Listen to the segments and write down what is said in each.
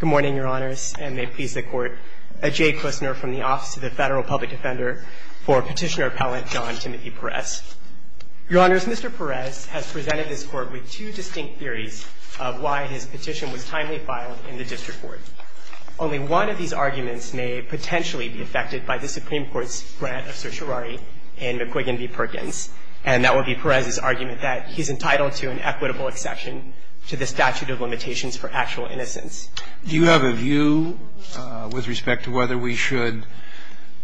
Good morning, Your Honors, and may it please the Court, Ajay Kusner from the Office of the Federal Public Defender for Petitioner-Appellant John Timothy Perez. Your Honors, Mr. Perez has presented this Court with two distinct theories of why his petition was timely filed in the District Court. Only one of these arguments may potentially be affected by the Supreme Court's grant of certiorari in McQuiggan v. Perkins, and that would be Perez's argument that he's entitled to an equitable exception to the statute of limitations for actual innocence. Do you have a view with respect to whether we should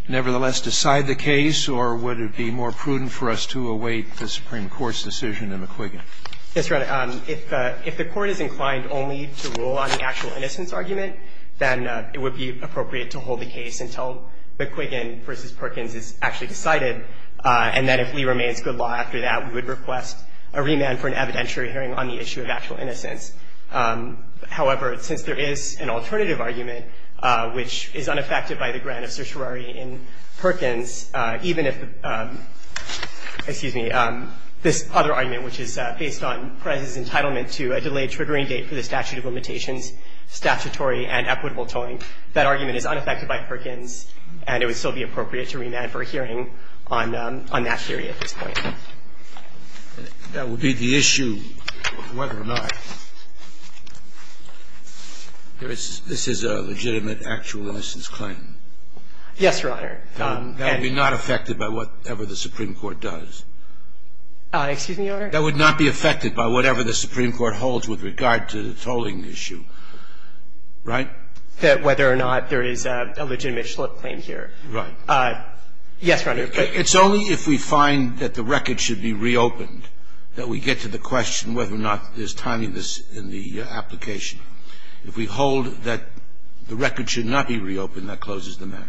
nevertheless decide the case, or would it be more prudent for us to await the Supreme Court's decision in McQuiggan? Yes, Your Honor. If the Court is inclined only to rule on the actual innocence argument, then it would be appropriate to hold the case until McQuiggan v. Perkins is actually decided, and then if Lee remains good law after that, we would request a remand for an evidentiary hearing on the issue of actual innocence. However, since there is an alternative argument, which is unaffected by the grant of certiorari in Perkins, even if the – excuse me – this other argument, which is based on Perez's entitlement to a delayed triggering date for the statute of limitations, statutory and equitable tolling, that argument is unaffected by Perkins, and it would still be appropriate to remand for a hearing on that theory at this point. That would be the issue of whether or not there is – this is a legitimate actual innocence claim. Yes, Your Honor. That would be not affected by whatever the Supreme Court does. Excuse me, Your Honor. That would not be affected by whatever the Supreme Court holds with regard to the tolling issue. Right? That would be not affected by whether or not there is a legitimate actual innocence claim here. Right. Yes, Your Honor. It's only if we find that the record should be reopened that we get to the question whether or not there's tininess in the application. If we hold that the record should not be reopened, that closes the matter.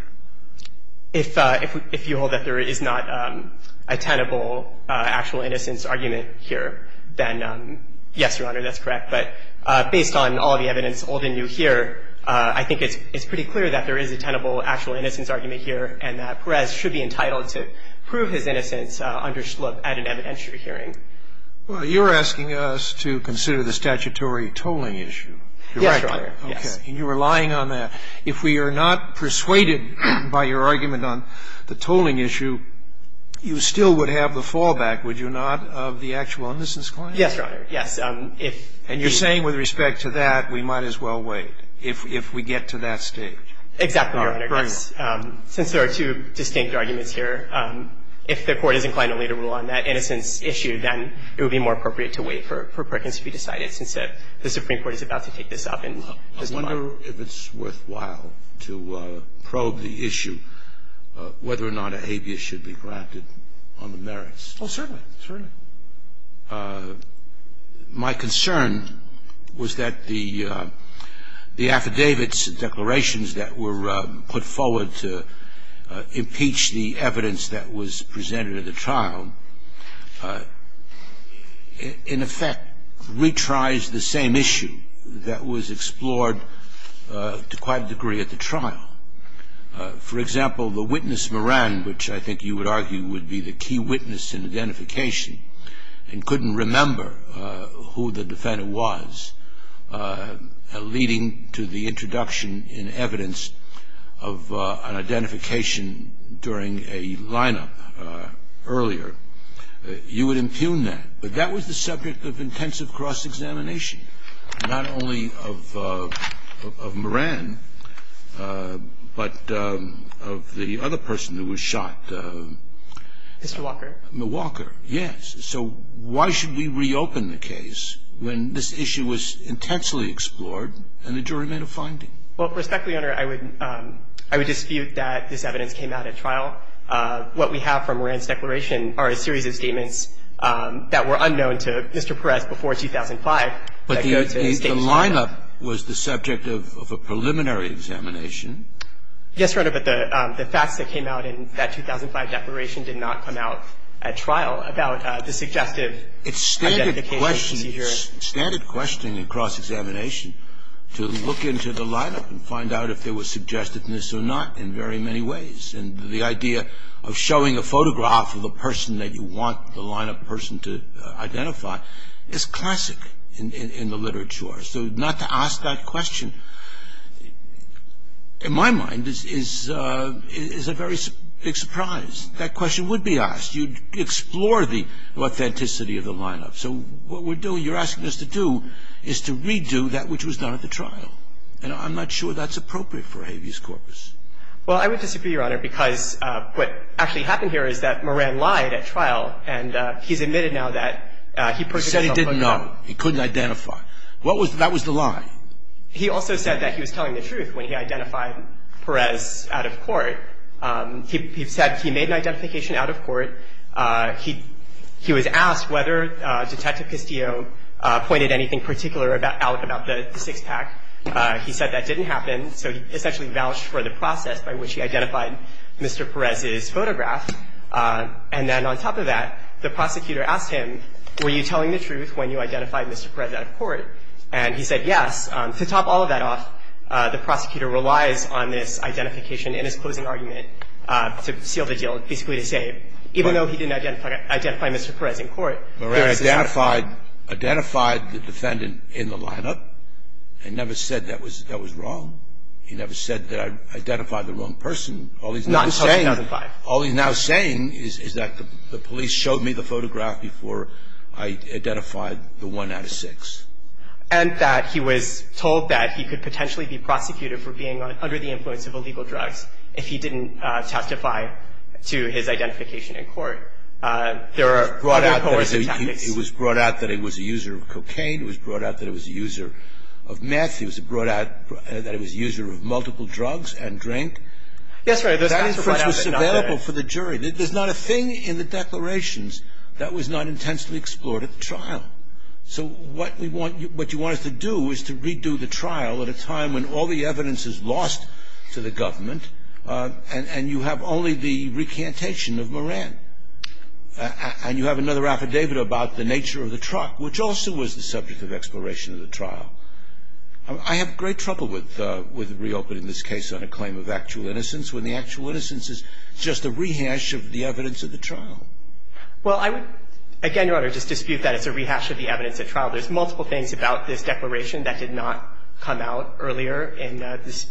If you hold that there is not a tenable actual innocence argument here, then yes, Your Honor, that's correct. But based on all the evidence old and new here, I think it's pretty clear that there is a tenable actual innocence argument here and that Perez should be entitled to prove his innocence under Schlupp at an evidentiary hearing. Well, you're asking us to consider the statutory tolling issue. Yes, Your Honor. Okay. And you're relying on that. If we are not persuaded by your argument on the tolling issue, you still would have the fallback, would you not, of the actual innocence claim? Yes, Your Honor, yes. And you're saying with respect to that, we might as well wait, if we get to that stage. Exactly, Your Honor. Right. Since there are two distinct arguments here, if the Court is inclined only to rule on that innocence issue, then it would be more appropriate to wait for Perkins to be decided, since the Supreme Court is about to take this up. I wonder if it's worthwhile to probe the issue, whether or not a habeas should be granted on the merits. Oh, certainly, certainly. My concern was that the affidavits, declarations that were put forward to impeach the evidence that was presented at the trial, in effect, retries the same issue that was explored to quite a degree at the trial. For example, the witness Moran, which I think you would argue would be the key witness in identification, and couldn't remember who the defendant was, leading to the introduction in evidence of an identification during a lineup earlier, you would impugn that. But that was the subject of intensive cross-examination, not only of Moran, but of the other person who was shot. Mr. Walker? Walker, yes. So why should we reopen the case when this issue was intensely explored and the jury made a finding? Well, respectfully, Your Honor, I would dispute that this evidence came out at trial. What we have from Moran's declaration are a series of statements that were unknown to Mr. Peres before 2005. But the lineup was the subject of a preliminary examination. Yes, Your Honor, but the facts that came out in that 2005 declaration did not come out at trial about the suggestive identification procedure. It's standard questioning in cross-examination to look into the lineup and find out if there was suggestiveness or not in very many ways. And the idea of showing a photograph of a person that you want the lineup person to identify is classic in the literature. So not to ask that question, in my mind, is a very big surprise. That question would be asked. You'd explore the authenticity of the lineup. So what we're doing, you're asking us to do, is to redo that which was done at the trial. And I'm not sure that's appropriate for habeas corpus. Well, I would disagree, Your Honor, because what actually happened here is that Moran lied at trial, and he's admitted now that he personally held a gun. He said he didn't know. He couldn't identify. That was the lie. He said he made an identification out of court. He was asked whether Detective Castillo pointed anything particular out about the six-pack. He said that didn't happen. So he essentially vouched for the process by which he identified Mr. Perez's photograph. And then on top of that, the prosecutor asked him, were you telling the truth when you identified Mr. Perez out of court? And he said yes. To top all of that off, the prosecutor relies on this identification in his closing argument to seal the deal, basically to say even though he didn't identify Mr. Perez in court, he identified the defendant in the lineup and never said that was wrong. He never said that I identified the wrong person. All he's now saying is that the police showed me the photograph before I identified the one out of six. And that he was told that he could potentially be prosecuted for being under the influence of illegal drugs if he didn't testify to his identification in court. There are coercive tactics. It was brought out that he was a user of cocaine. It was brought out that he was a user of meth. It was brought out that he was a user of multiple drugs and drink. Yes, Your Honor. That inference was available for the jury. Yes. I think it's a good point. You have a trial. You have a trial. So what we want to do is to redo the trial at a time when all the evidence is lost to the government and you have only the recantation of Moran. And you have another affidavit about the nature of the truck, which also was the subject of exploration of the trial. I have great trouble with reopening this case on a claim of actual innocence when the actual innocence is just a rehash of the evidence of the trial. Well, I would, again, Your Honor, just dispute that it's a rehash of the evidence at trial. There's multiple things about this declaration that did not come out earlier in this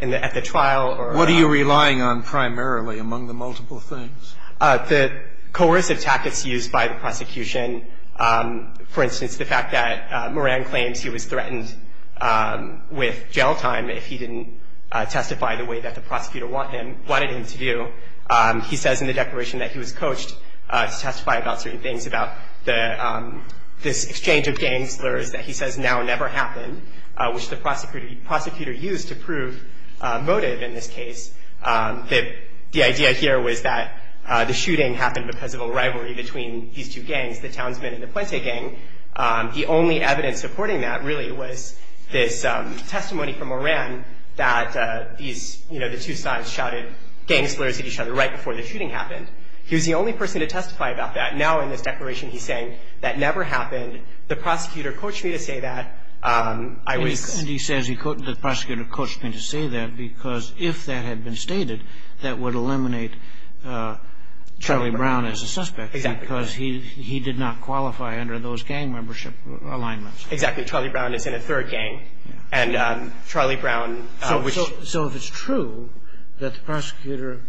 at the trial. What are you relying on primarily among the multiple things? The coercive tactics used by the prosecution. For instance, the fact that Moran claims he was threatened with jail time if he didn't testify the way that the prosecutor wanted him to do. He says in the declaration that he was coached to testify about certain things, about this exchange of gang slurs that he says now never happened, which the prosecutor used to prove motive in this case. The idea here was that the shooting happened because of a rivalry between these two gangs. The Townsmen and the Puente gang. The only evidence supporting that really was this testimony from Moran that these, you know, the two sides shouted gang slurs at each other right before the shooting happened. He was the only person to testify about that. Now in this declaration he's saying that never happened. The prosecutor coached me to say that. And he says the prosecutor coached him to say that because if that had been stated, that would eliminate Charlie Brown as a suspect. Exactly. Because he did not qualify under those gang membership alignments. Exactly. Charlie Brown is in a third gang. And Charlie Brown. So if it's true that the prosecutor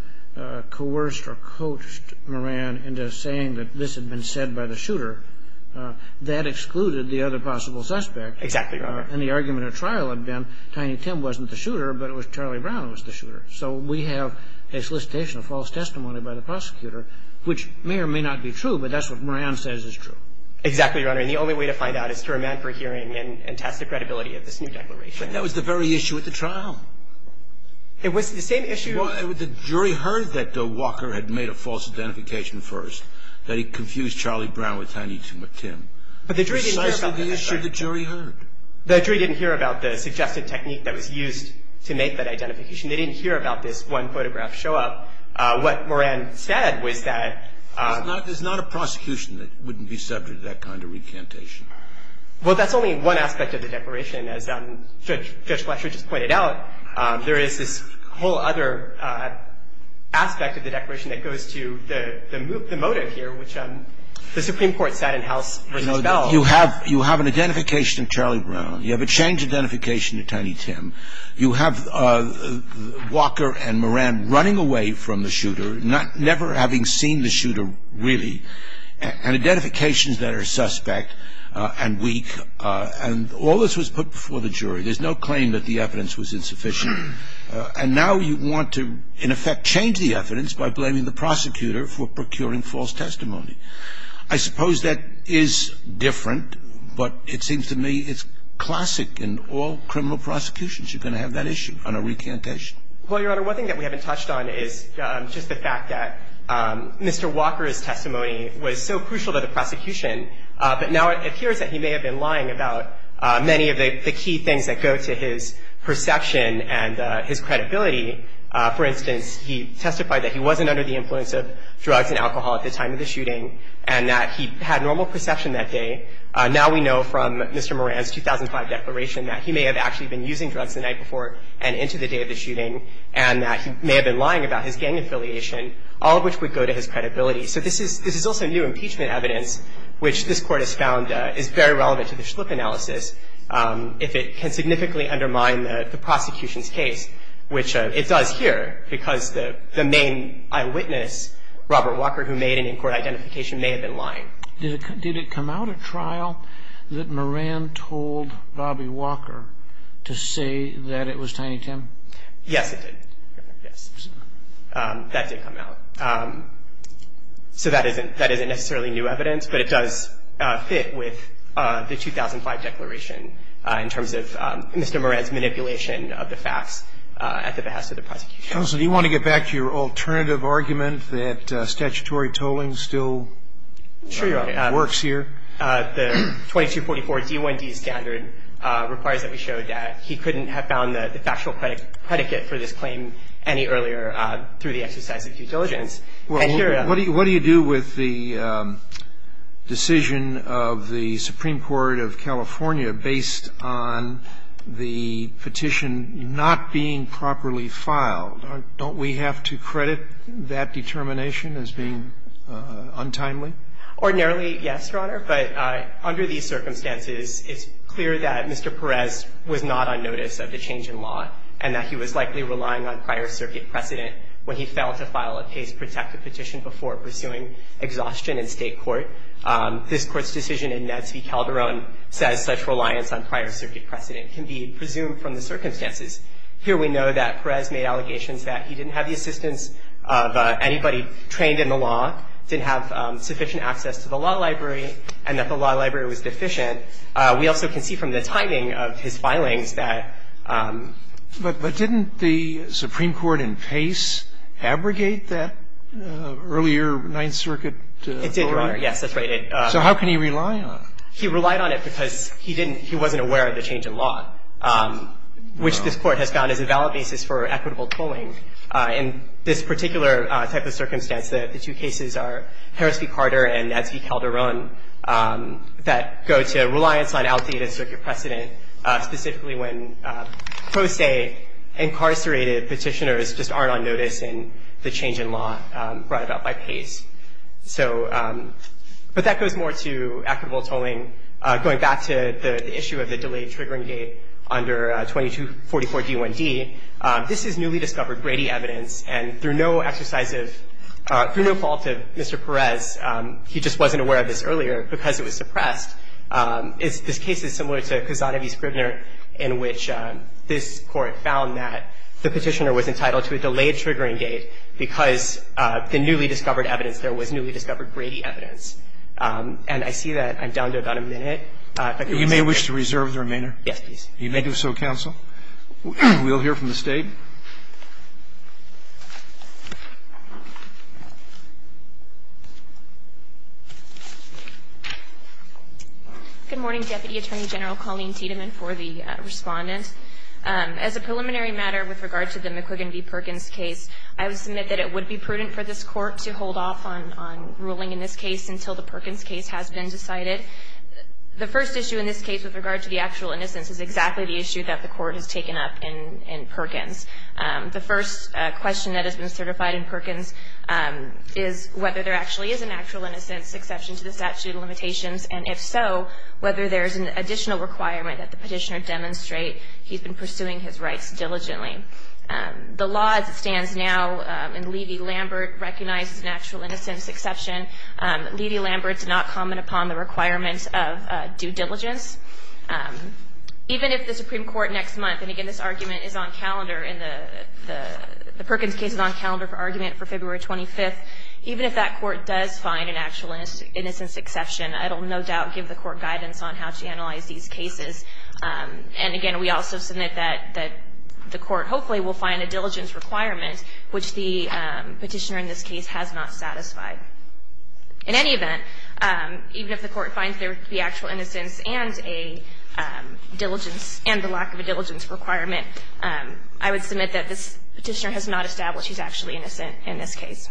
coerced or coached Moran into saying that this had been said by the shooter, that excluded the other possible suspect. Exactly. And the argument at trial had been Tiny Tim wasn't the shooter, but it was Charlie Brown who was the shooter. So we have a solicitation of false testimony by the prosecutor, which may or may not be true, but that's what Moran says is true. Exactly, Your Honor. And the only way to find out is to remand for hearing and test the credibility of this new declaration. But that was the very issue at the trial. It was the same issue. The jury heard that Walker had made a false identification first, that he confused Charlie Brown with Tiny Tim. But the jury didn't hear about that. Precisely the issue the jury heard. The jury didn't hear about the suggested technique that was used to make that identification. They didn't hear about this one photograph show up. What Moran said was that. There's not a prosecution that wouldn't be subject to that kind of recantation. Well, that's only one aspect of the declaration, as Judge Fletcher just pointed out. There is this whole other aspect of the declaration that goes to the motive here, which the Supreme Court said in House v. Bell. You have an identification of Charlie Brown. You have a changed identification of Tiny Tim. You have Walker and Moran running away from the shooter, never having seen the shooter really. And identifications that are suspect and weak. And all this was put before the jury. There's no claim that the evidence was insufficient. And now you want to, in effect, change the evidence by blaming the prosecutor for procuring false testimony. I suppose that is different. But it seems to me it's classic in all criminal prosecutions. You're going to have that issue on a recantation. Well, Your Honor, one thing that we haven't touched on is just the fact that Mr. Walker's testimony was so crucial to the prosecution. But now it appears that he may have been lying about many of the key things that go to his perception and his credibility. For instance, he testified that he wasn't under the influence of drugs and alcohol at the time of the shooting and that he had normal perception that day. Now we know from Mr. Moran's 2005 declaration that he may have actually been using drugs the night before and into the day of the shooting and that he may have been lying about his gang affiliation, all of which would go to his credibility. So this is also new impeachment evidence, which this Court has found is very relevant to the Schlipp analysis, if it can significantly undermine the prosecution's case, which it does here, because the main eyewitness, Robert Walker, who made an in-court identification, may have been lying. Did it come out at trial that Moran told Bobby Walker to say that it was Tiny Tim? Yes, it did. Yes. That did come out. So that isn't necessarily new evidence, but it does fit with the 2005 declaration in terms of Mr. Moran's manipulation of the facts at the behest of the prosecution. Counsel, do you want to get back to your alternative argument that statutory tolling still works here? The 2244 D1D standard requires that we show that he couldn't have found the factual predicate for this claim any earlier through the exercise of due diligence. Well, what do you do with the decision of the Supreme Court of California based on the petition not being properly filed? Don't we have to credit that determination as being untimely? Ordinarily, yes, Your Honor, but under these circumstances, it's clear that Mr. Perez was not on notice of the change in law and that he was likely relying on prior circuit precedent when he failed to file a case protective petition before pursuing exhaustion in State court. This Court's decision in Netsby Calderon says such reliance on prior circuit precedent can be presumed from the circumstances. Here we know that Perez made allegations that he didn't have the assistance of anybody trained in the law, didn't have sufficient access to the law library, and that the law library was deficient. We also can see from the timing of his filings that ---- So did Mr. Perez's case abrogate that earlier Ninth Circuit ruling? It did, Your Honor. Yes, that's right. So how can he rely on it? He relied on it because he didn't ---- he wasn't aware of the change in law, which this Court has found is a valid basis for equitable tolling. In this particular type of circumstance, the two cases are Harris v. Carter and Netsby Calderon that go to reliance on outdated circuit precedent, specifically when pro se incarcerated petitioners just aren't on notice in the change in law brought about by Pace. So, but that goes more to equitable tolling. Going back to the issue of the delayed triggering date under 2244 D1D, this is newly discovered Brady evidence, and through no exercise of ---- through no fault of Mr. Perez, he just wasn't aware of this earlier because it was suppressed. It's ---- this case is similar to Cassano v. Scribner in which this Court found that the petitioner was entitled to a delayed triggering date because the newly discovered evidence there was newly discovered Brady evidence. And I see that I'm down to about a minute. If I could reserve the ---- You may wish to reserve the remainder. Yes, please. You may do so, counsel. We'll hear from the State. Good morning, Deputy Attorney General Colleen Tiedemann for the Respondent. As a preliminary matter with regard to the McQuiggan v. Perkins case, I would submit that it would be prudent for this Court to hold off on ruling in this case until the Perkins case has been decided. The first issue in this case with regard to the actual innocence is exactly the issue that the Court has taken up in Perkins. The first question that has been certified in Perkins is whether there actually is an actual innocence exception to the statute of limitations, and if so, whether there is an additional requirement that the petitioner demonstrate he's been pursuing his rights diligently. The law as it stands now in Levy-Lambert recognizes an actual innocence exception. Levy-Lambert did not comment upon the requirements of due diligence. Even if the Supreme Court next month, and again, this argument is on calendar in the – the Perkins case is on calendar for argument for February 25th. Even if that Court does find an actual innocence exception, it will no doubt give the Court guidance on how to analyze these cases. And again, we also submit that the Court hopefully will find a diligence requirement which the petitioner in this case has not satisfied. In any event, even if the Court finds there to be actual innocence and a diligence – and the lack of a diligence requirement, I would submit that this petitioner has not established he's actually innocent in this case.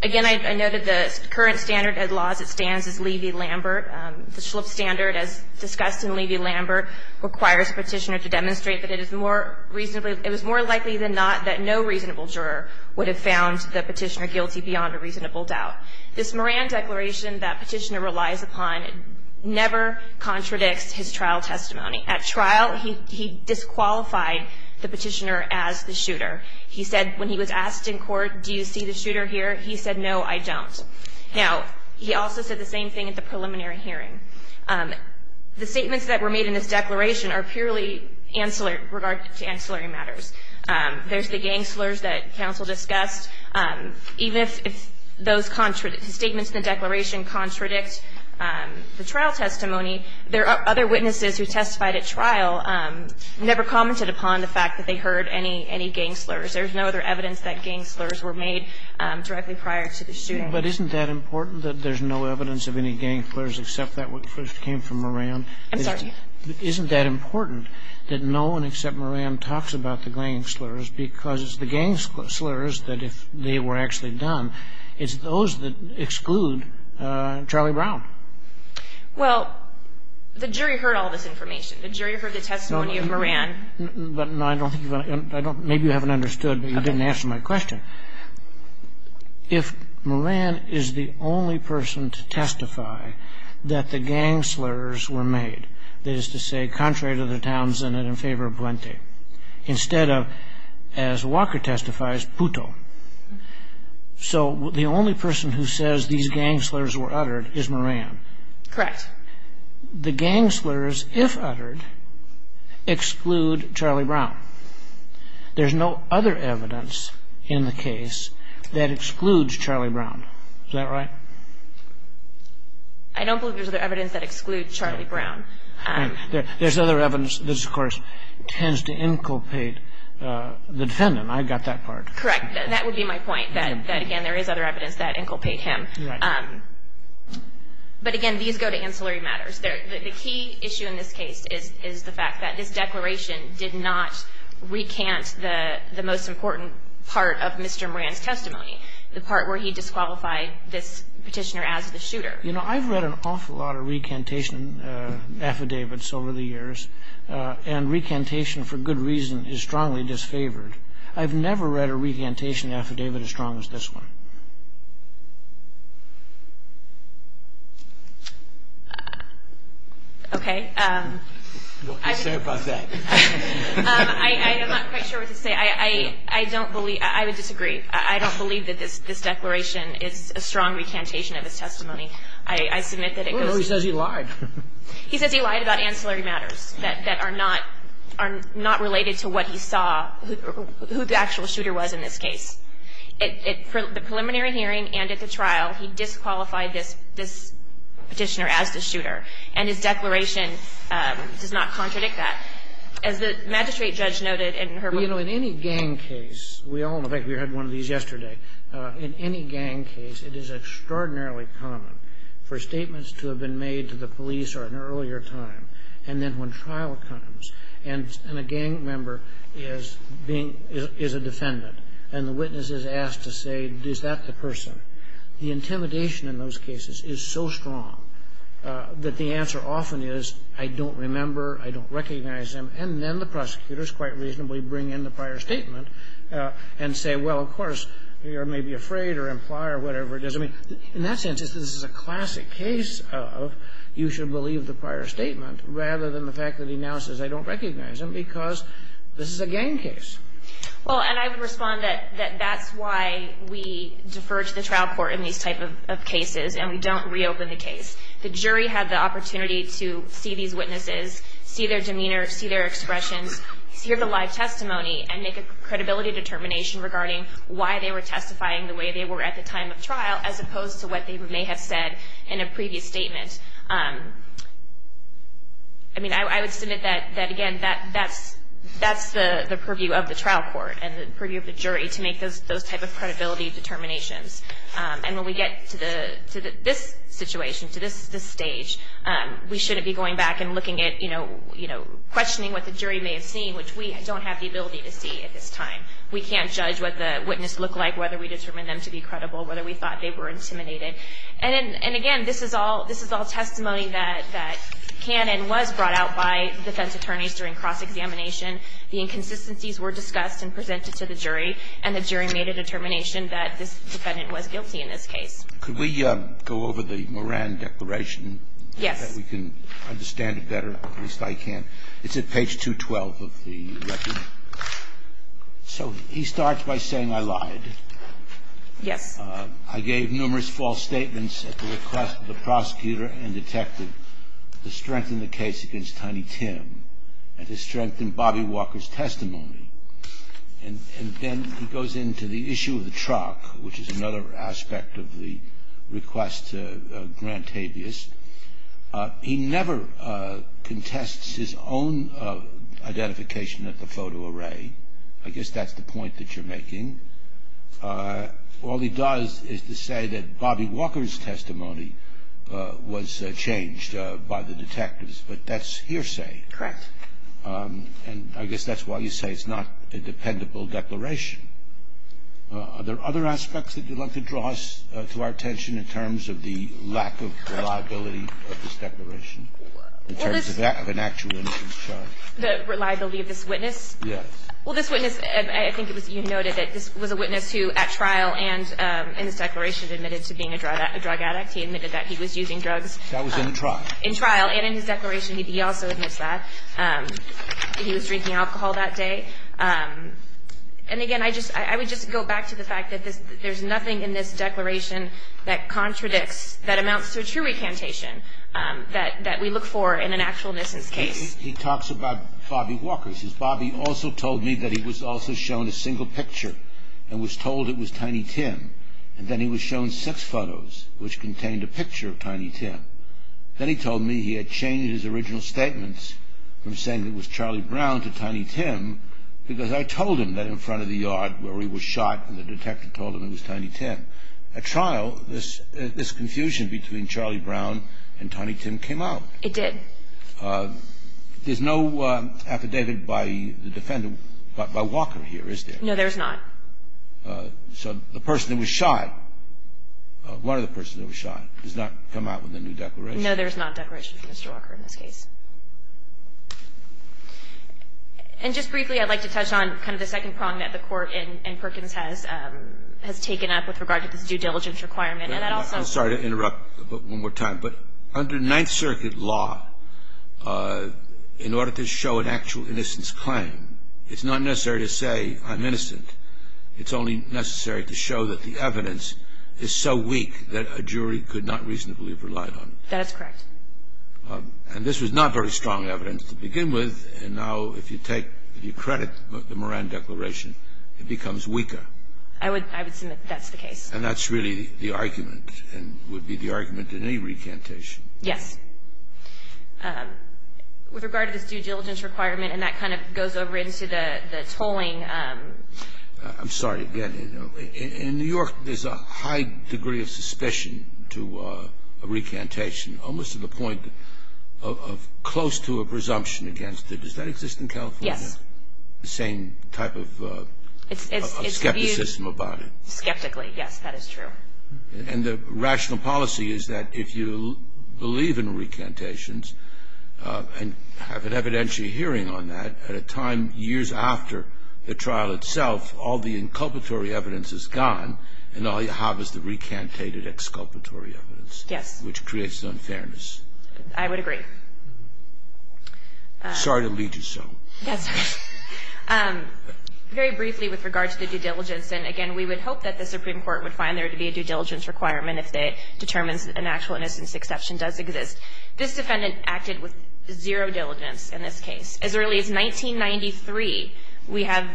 Again, I noted the current standard of the law as it stands is Levy-Lambert. The Schlupf standard, as discussed in Levy-Lambert, requires the petitioner to demonstrate that it is more reasonably – it was more likely than not that no reasonable juror would have found the petitioner guilty beyond a reasonable doubt. This Moran declaration that petitioner relies upon never contradicts his trial testimony. At trial, he disqualified the petitioner as the shooter. He said when he was asked in court, do you see the shooter here, he said, no, I don't. Now, he also said the same thing at the preliminary hearing. The statements that were made in this declaration are purely ancillary – regard to ancillary matters. There's the gang slurs that counsel discussed. Even if those statements in the declaration contradict the trial testimony, there are other witnesses who testified at trial, never commented upon the fact that they heard any gang slurs. There's no other evidence that gang slurs were made directly prior to the shooting. But isn't that important, that there's no evidence of any gang slurs except that which first came from Moran? I'm sorry? Isn't that important, that no one except Moran talks about the gang slurs because it's the gang slurs that if they were actually done, it's those that exclude Charlie Brown? Well, the jury heard all this information. The jury heard the testimony of Moran. But I don't think you want to – maybe you haven't understood, but you didn't answer my question. If Moran is the only person to testify that the gang slurs were made, that is to say, contrary to the Townsend and in favor of Puente, instead of, as Walker testifies, Puto. So the only person who says these gang slurs were uttered is Moran. Correct. The gang slurs, if uttered, exclude Charlie Brown. There's no other evidence in the case that excludes Charlie Brown. Is that right? I don't believe there's other evidence that excludes Charlie Brown. There's other evidence that, of course, tends to inculpate the defendant. I got that part. Correct. That would be my point, that, again, there is other evidence that inculpates him. Right. But, again, these go to ancillary matters. The key issue in this case is the fact that this declaration did not recant the most important part of Mr. Moran's testimony, the part where he disqualified this petitioner as the shooter. You know, I've read an awful lot of recantation affidavits over the years, and recantation, for good reason, is strongly disfavored. I've never read a recantation affidavit as strong as this one. Okay. What can you say about that? I'm not quite sure what to say. I don't believe – I would disagree. I don't believe that this declaration is a strong recantation of his testimony. I submit that it goes to the jury. Well, he says he lied. He says he lied about ancillary matters that are not related to what he saw, who the actual shooter was in this case. At the preliminary hearing and at the trial, he disqualified this petitioner as the shooter. And his declaration does not contradict that. As the magistrate judge noted in her report – Well, you know, in any gang case – in fact, we had one of these yesterday. In any gang case, it is extraordinarily common for statements to have been made to the police or at an earlier time. And then when trial comes and a gang member is a defendant and the witness is asked to say, is that the person, the intimidation in those cases is so strong that the answer often is, I don't remember, I don't recognize him. And then the prosecutors quite reasonably bring in the prior statement and say, well, of course, you're maybe afraid or imply or whatever it is. I mean, in that sense, this is a classic case of you should believe the prior statement rather than the fact that he now says, I don't recognize him because this is a gang case. Well, and I would respond that that's why we defer to the trial court in these type of cases and we don't reopen the case. The jury had the opportunity to see these witnesses, see their demeanor, see their expressions, hear the live testimony, and make a credibility determination regarding why they were testifying the way they were at the time of trial as opposed to what they may have said in a previous statement. I mean, I would submit that, again, that's the purview of the trial court and the purview of the jury to make those type of credibility determinations. And when we get to this situation, to this stage, we shouldn't be going back and looking at, you know, questioning what the jury may have seen, which we don't have the ability to see at this time. We can't judge what the witness looked like, whether we determined them to be credible, whether we thought they were intimidated. And, again, this is all testimony that can and was brought out by defense attorneys during cross-examination. The inconsistencies were discussed and presented to the jury, and the jury made a determination that the defendant was guilty in this case. Could we go over the Moran Declaration? Yes. If we can understand it better, at least I can. It's at page 212 of the record. So he starts by saying, I lied. Yes. I gave numerous false statements at the request of the prosecutor and detective to strengthen the case against Tiny Tim and to strengthen Bobby Walker's testimony. And then he goes into the issue of the truck, which is another aspect of the request to Grant Tabias. He never contests his own identification at the photo array. I guess that's the point that you're making. All he does is to say that Bobby Walker's testimony was changed by the detectives, but that's hearsay. Correct. And I guess that's why you say it's not a dependable declaration. Are there other aspects that you'd like to draw us to our attention in terms of the lack of reliability of this declaration in terms of an actual innocence charge? The reliability of this witness? Yes. Well, this witness, I think it was you noted that this was a witness who at trial and in this declaration admitted to being a drug addict. He admitted that he was using drugs. That was in the trial. In trial and in his declaration he also admits that. He was drinking alcohol that day. And, again, I would just go back to the fact that there's nothing in this declaration that contradicts, that amounts to a true recantation that we look for in an actual innocence case. He talks about Bobby Walker. He says, Bobby also told me that he was also shown a single picture and was told it was Tiny Tim. And then he was shown six photos, which contained a picture of Tiny Tim. Then he told me he had changed his original statements from saying it was Charlie Brown to Tiny Tim because I told him that in front of the yard where he was shot and the detective told him it was Tiny Tim. At trial, this confusion between Charlie Brown and Tiny Tim came out. It did. There's no affidavit by the defendant, by Walker here, is there? No, there's not. So the person that was shot, one of the persons that was shot, has not come out with a new declaration? No, there's not a declaration from Mr. Walker in this case. And just briefly, I'd like to touch on kind of the second prong that the Court in Perkins has taken up with regard to this due diligence requirement. I'm sorry to interrupt one more time. But under Ninth Circuit law, in order to show an actual innocence claim, it's not necessary to say I'm innocent. It's only necessary to show that the evidence is so weak that a jury could not reasonably have relied on it. That is correct. And this was not very strong evidence to begin with. And now if you take, if you credit the Moran Declaration, it becomes weaker. I would submit that's the case. And that's really the argument and would be the argument in any recantation. Yes. With regard to this due diligence requirement, and that kind of goes over into the I'm sorry, again, in New York there's a high degree of suspicion to a recantation, almost to the point of close to a presumption against it. Does that exist in California? Yes. The same type of skepticism about it? Skeptically, yes. That is true. And the rational policy is that if you believe in recantations and have an evidentiary hearing on that, at a time years after the trial itself, all the inculpatory evidence is gone and all you have is the recantated exculpatory evidence. Yes. Which creates unfairness. I would agree. Sorry to lead you so. Yes. Very briefly with regard to the due diligence. And, again, we would hope that the Supreme Court would find there to be a due diligence requirement if it determines an actual innocence exception does exist. This defendant acted with zero diligence in this case. As early as 1993, we have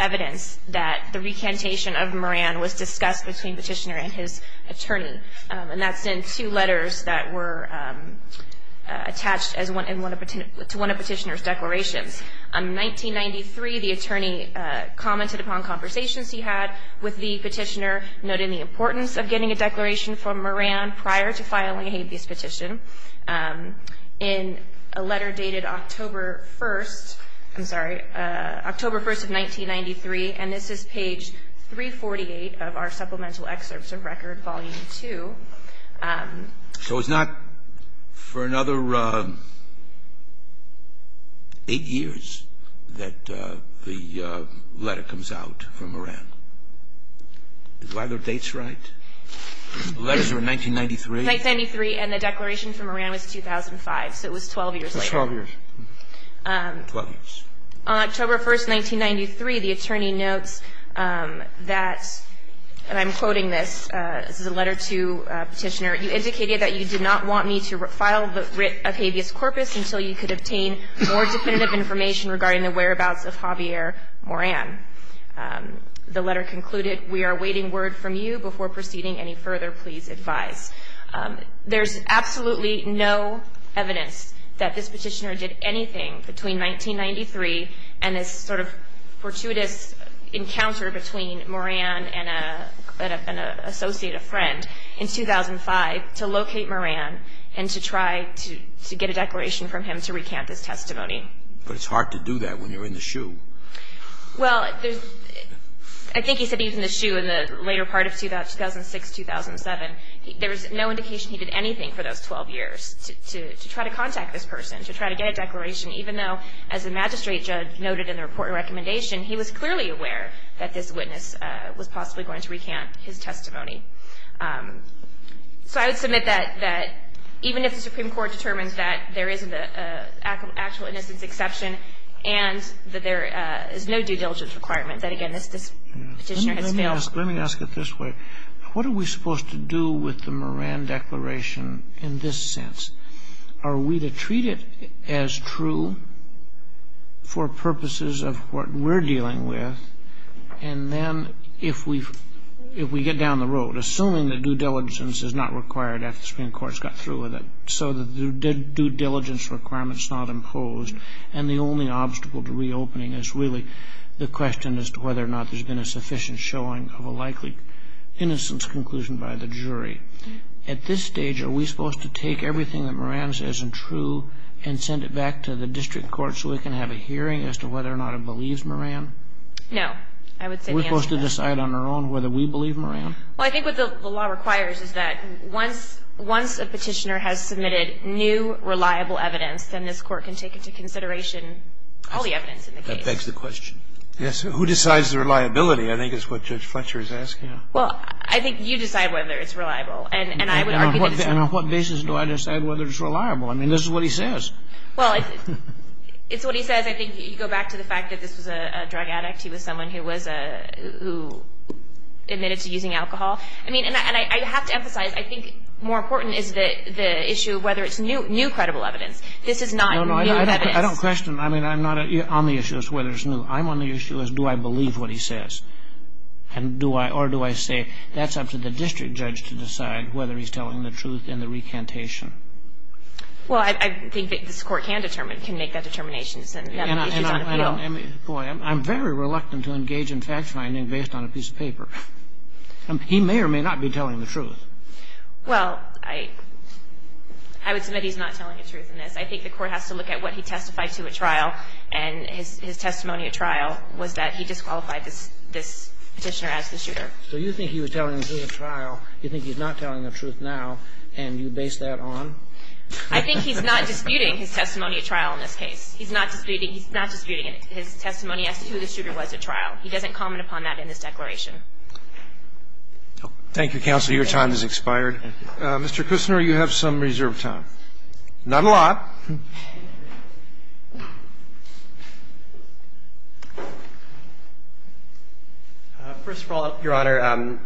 evidence that the recantation of Moran was discussed between Petitioner and his attorney. And that's in two letters that were attached to one of Petitioner's declarations. In 1993, the attorney commented upon conversations he had with the Petitioner, noting the importance of getting a declaration from Moran prior to filing a habeas petition. In a letter dated October 1st, I'm sorry, October 1st of 1993, and this is page 348 of our supplemental excerpts of Record, Volume 2. So it's not for another eight years that the letter comes out from Moran. Is either of the dates right? The letters are in 1993? 1993, and the declaration from Moran was 2005. So it was 12 years later. Twelve years. Twelve years. On October 1st, 1993, the attorney notes that, and I'm quoting this, this is a letter to Petitioner. You indicated that you did not want me to file the writ of habeas corpus until you could obtain more definitive information regarding the whereabouts of Javier Moran. The letter concluded, we are awaiting word from you. Before proceeding any further, please advise. There's absolutely no evidence that this Petitioner did anything between 1993 and this sort of fortuitous encounter between Moran and an associate, a friend, in 2005 to locate Moran and to try to get a declaration from him to recant this testimony. But it's hard to do that when you're in the shoe. Well, I think he said he was in the shoe in the later part of 2006, 2007. There was no indication he did anything for those 12 years to try to contact this person, to try to get a declaration, even though, as the magistrate judge noted in the report and recommendation, he was clearly aware that this witness was possibly going to recant his testimony. So I would submit that even if the Supreme Court determines that there isn't an actual innocence exception and that there is no due diligence requirement, that, again, this Petitioner has failed. Let me ask it this way. What are we supposed to do with the Moran Declaration in this sense? Are we to treat it as true for purposes of what we're dealing with? And then if we get down the road, assuming that due diligence is not required after the Supreme Court's got through with it, so the due diligence requirement's not imposed, and the only obstacle to reopening is really the question as to whether or not there's been a sufficient showing of a likely innocence conclusion by the jury. At this stage, are we supposed to take everything that Moran says is true and send it back to the district court so we can have a hearing as to whether or not it believes Moran? No. I would say the answer is yes. Are we supposed to decide on our own whether we believe Moran? Well, I think what the law requires is that once a Petitioner has submitted new, reliable evidence, then this Court can take into consideration all the evidence in the case. That begs the question. Yes. Who decides the reliability, I think is what Judge Fletcher is asking. Well, I think you decide whether it's reliable, and I would argue that it's reliable. And on what basis do I decide whether it's reliable? I mean, this is what he says. Well, it's what he says. I think you go back to the fact that this was a drug addict. He was someone who admitted to using alcohol. I mean, and I have to emphasize, I think more important is the issue of whether it's new credible evidence. This is not new evidence. No, no, I don't question. I mean, I'm not on the issue as to whether it's new. I'm on the issue as to do I believe what he says. And do I, or do I say that's up to the district judge to decide whether he's telling the truth in the recantation. Well, I think that this Court can determine, can make that determination. And that is on appeal. Boy, I'm very reluctant to engage in fact-finding based on a piece of paper. He may or may not be telling the truth. Well, I would submit he's not telling the truth in this. I think the Court has to look at what he testified to at trial. And his testimony at trial was that he disqualified this Petitioner as the shooter. So you think he was telling the truth at trial. You think he's not telling the truth now, and you base that on? I think he's not disputing his testimony at trial in this case. He's not disputing, he's not disputing his testimony as to who the shooter was at trial. He doesn't comment upon that in this declaration. Thank you, counsel. Your time has expired. Mr. Kushner, you have some reserved time. Not in the law. First of all, Your Honor,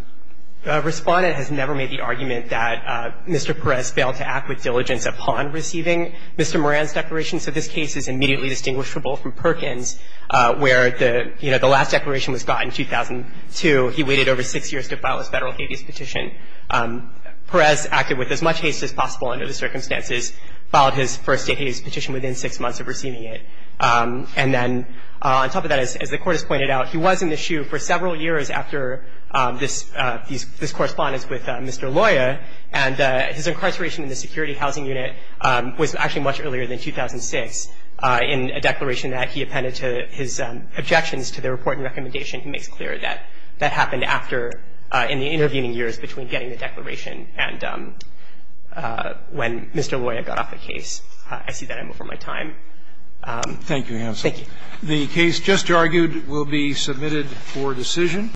the Respondent has never made the argument that Mr. Perez failed to act with diligence upon receiving Mr. Moran's declaration. So this case is immediately distinguishable from Perkins, where the, you know, the last declaration was got in 2002. He waited over six years to file his Federal habeas petition. Perez acted with as much haste as possible under the circumstances, filed his first habeas petition within six months of receiving it. And then on top of that, as the Court has pointed out, he was in the shoe for several years after this correspondence with Mr. Loya, and his incarceration in the security housing unit was actually much earlier than 2006 in a declaration that he appended to his objections to the report and recommendation. So I'm not going to argue that Mr. Loya failed to act with diligence upon receiving Mr. Moran's declaration. He makes clear that that happened after, in the intervening years, between getting the declaration and when Mr. Loya got off the case. I see that I'm over my time. Thank you, counsel.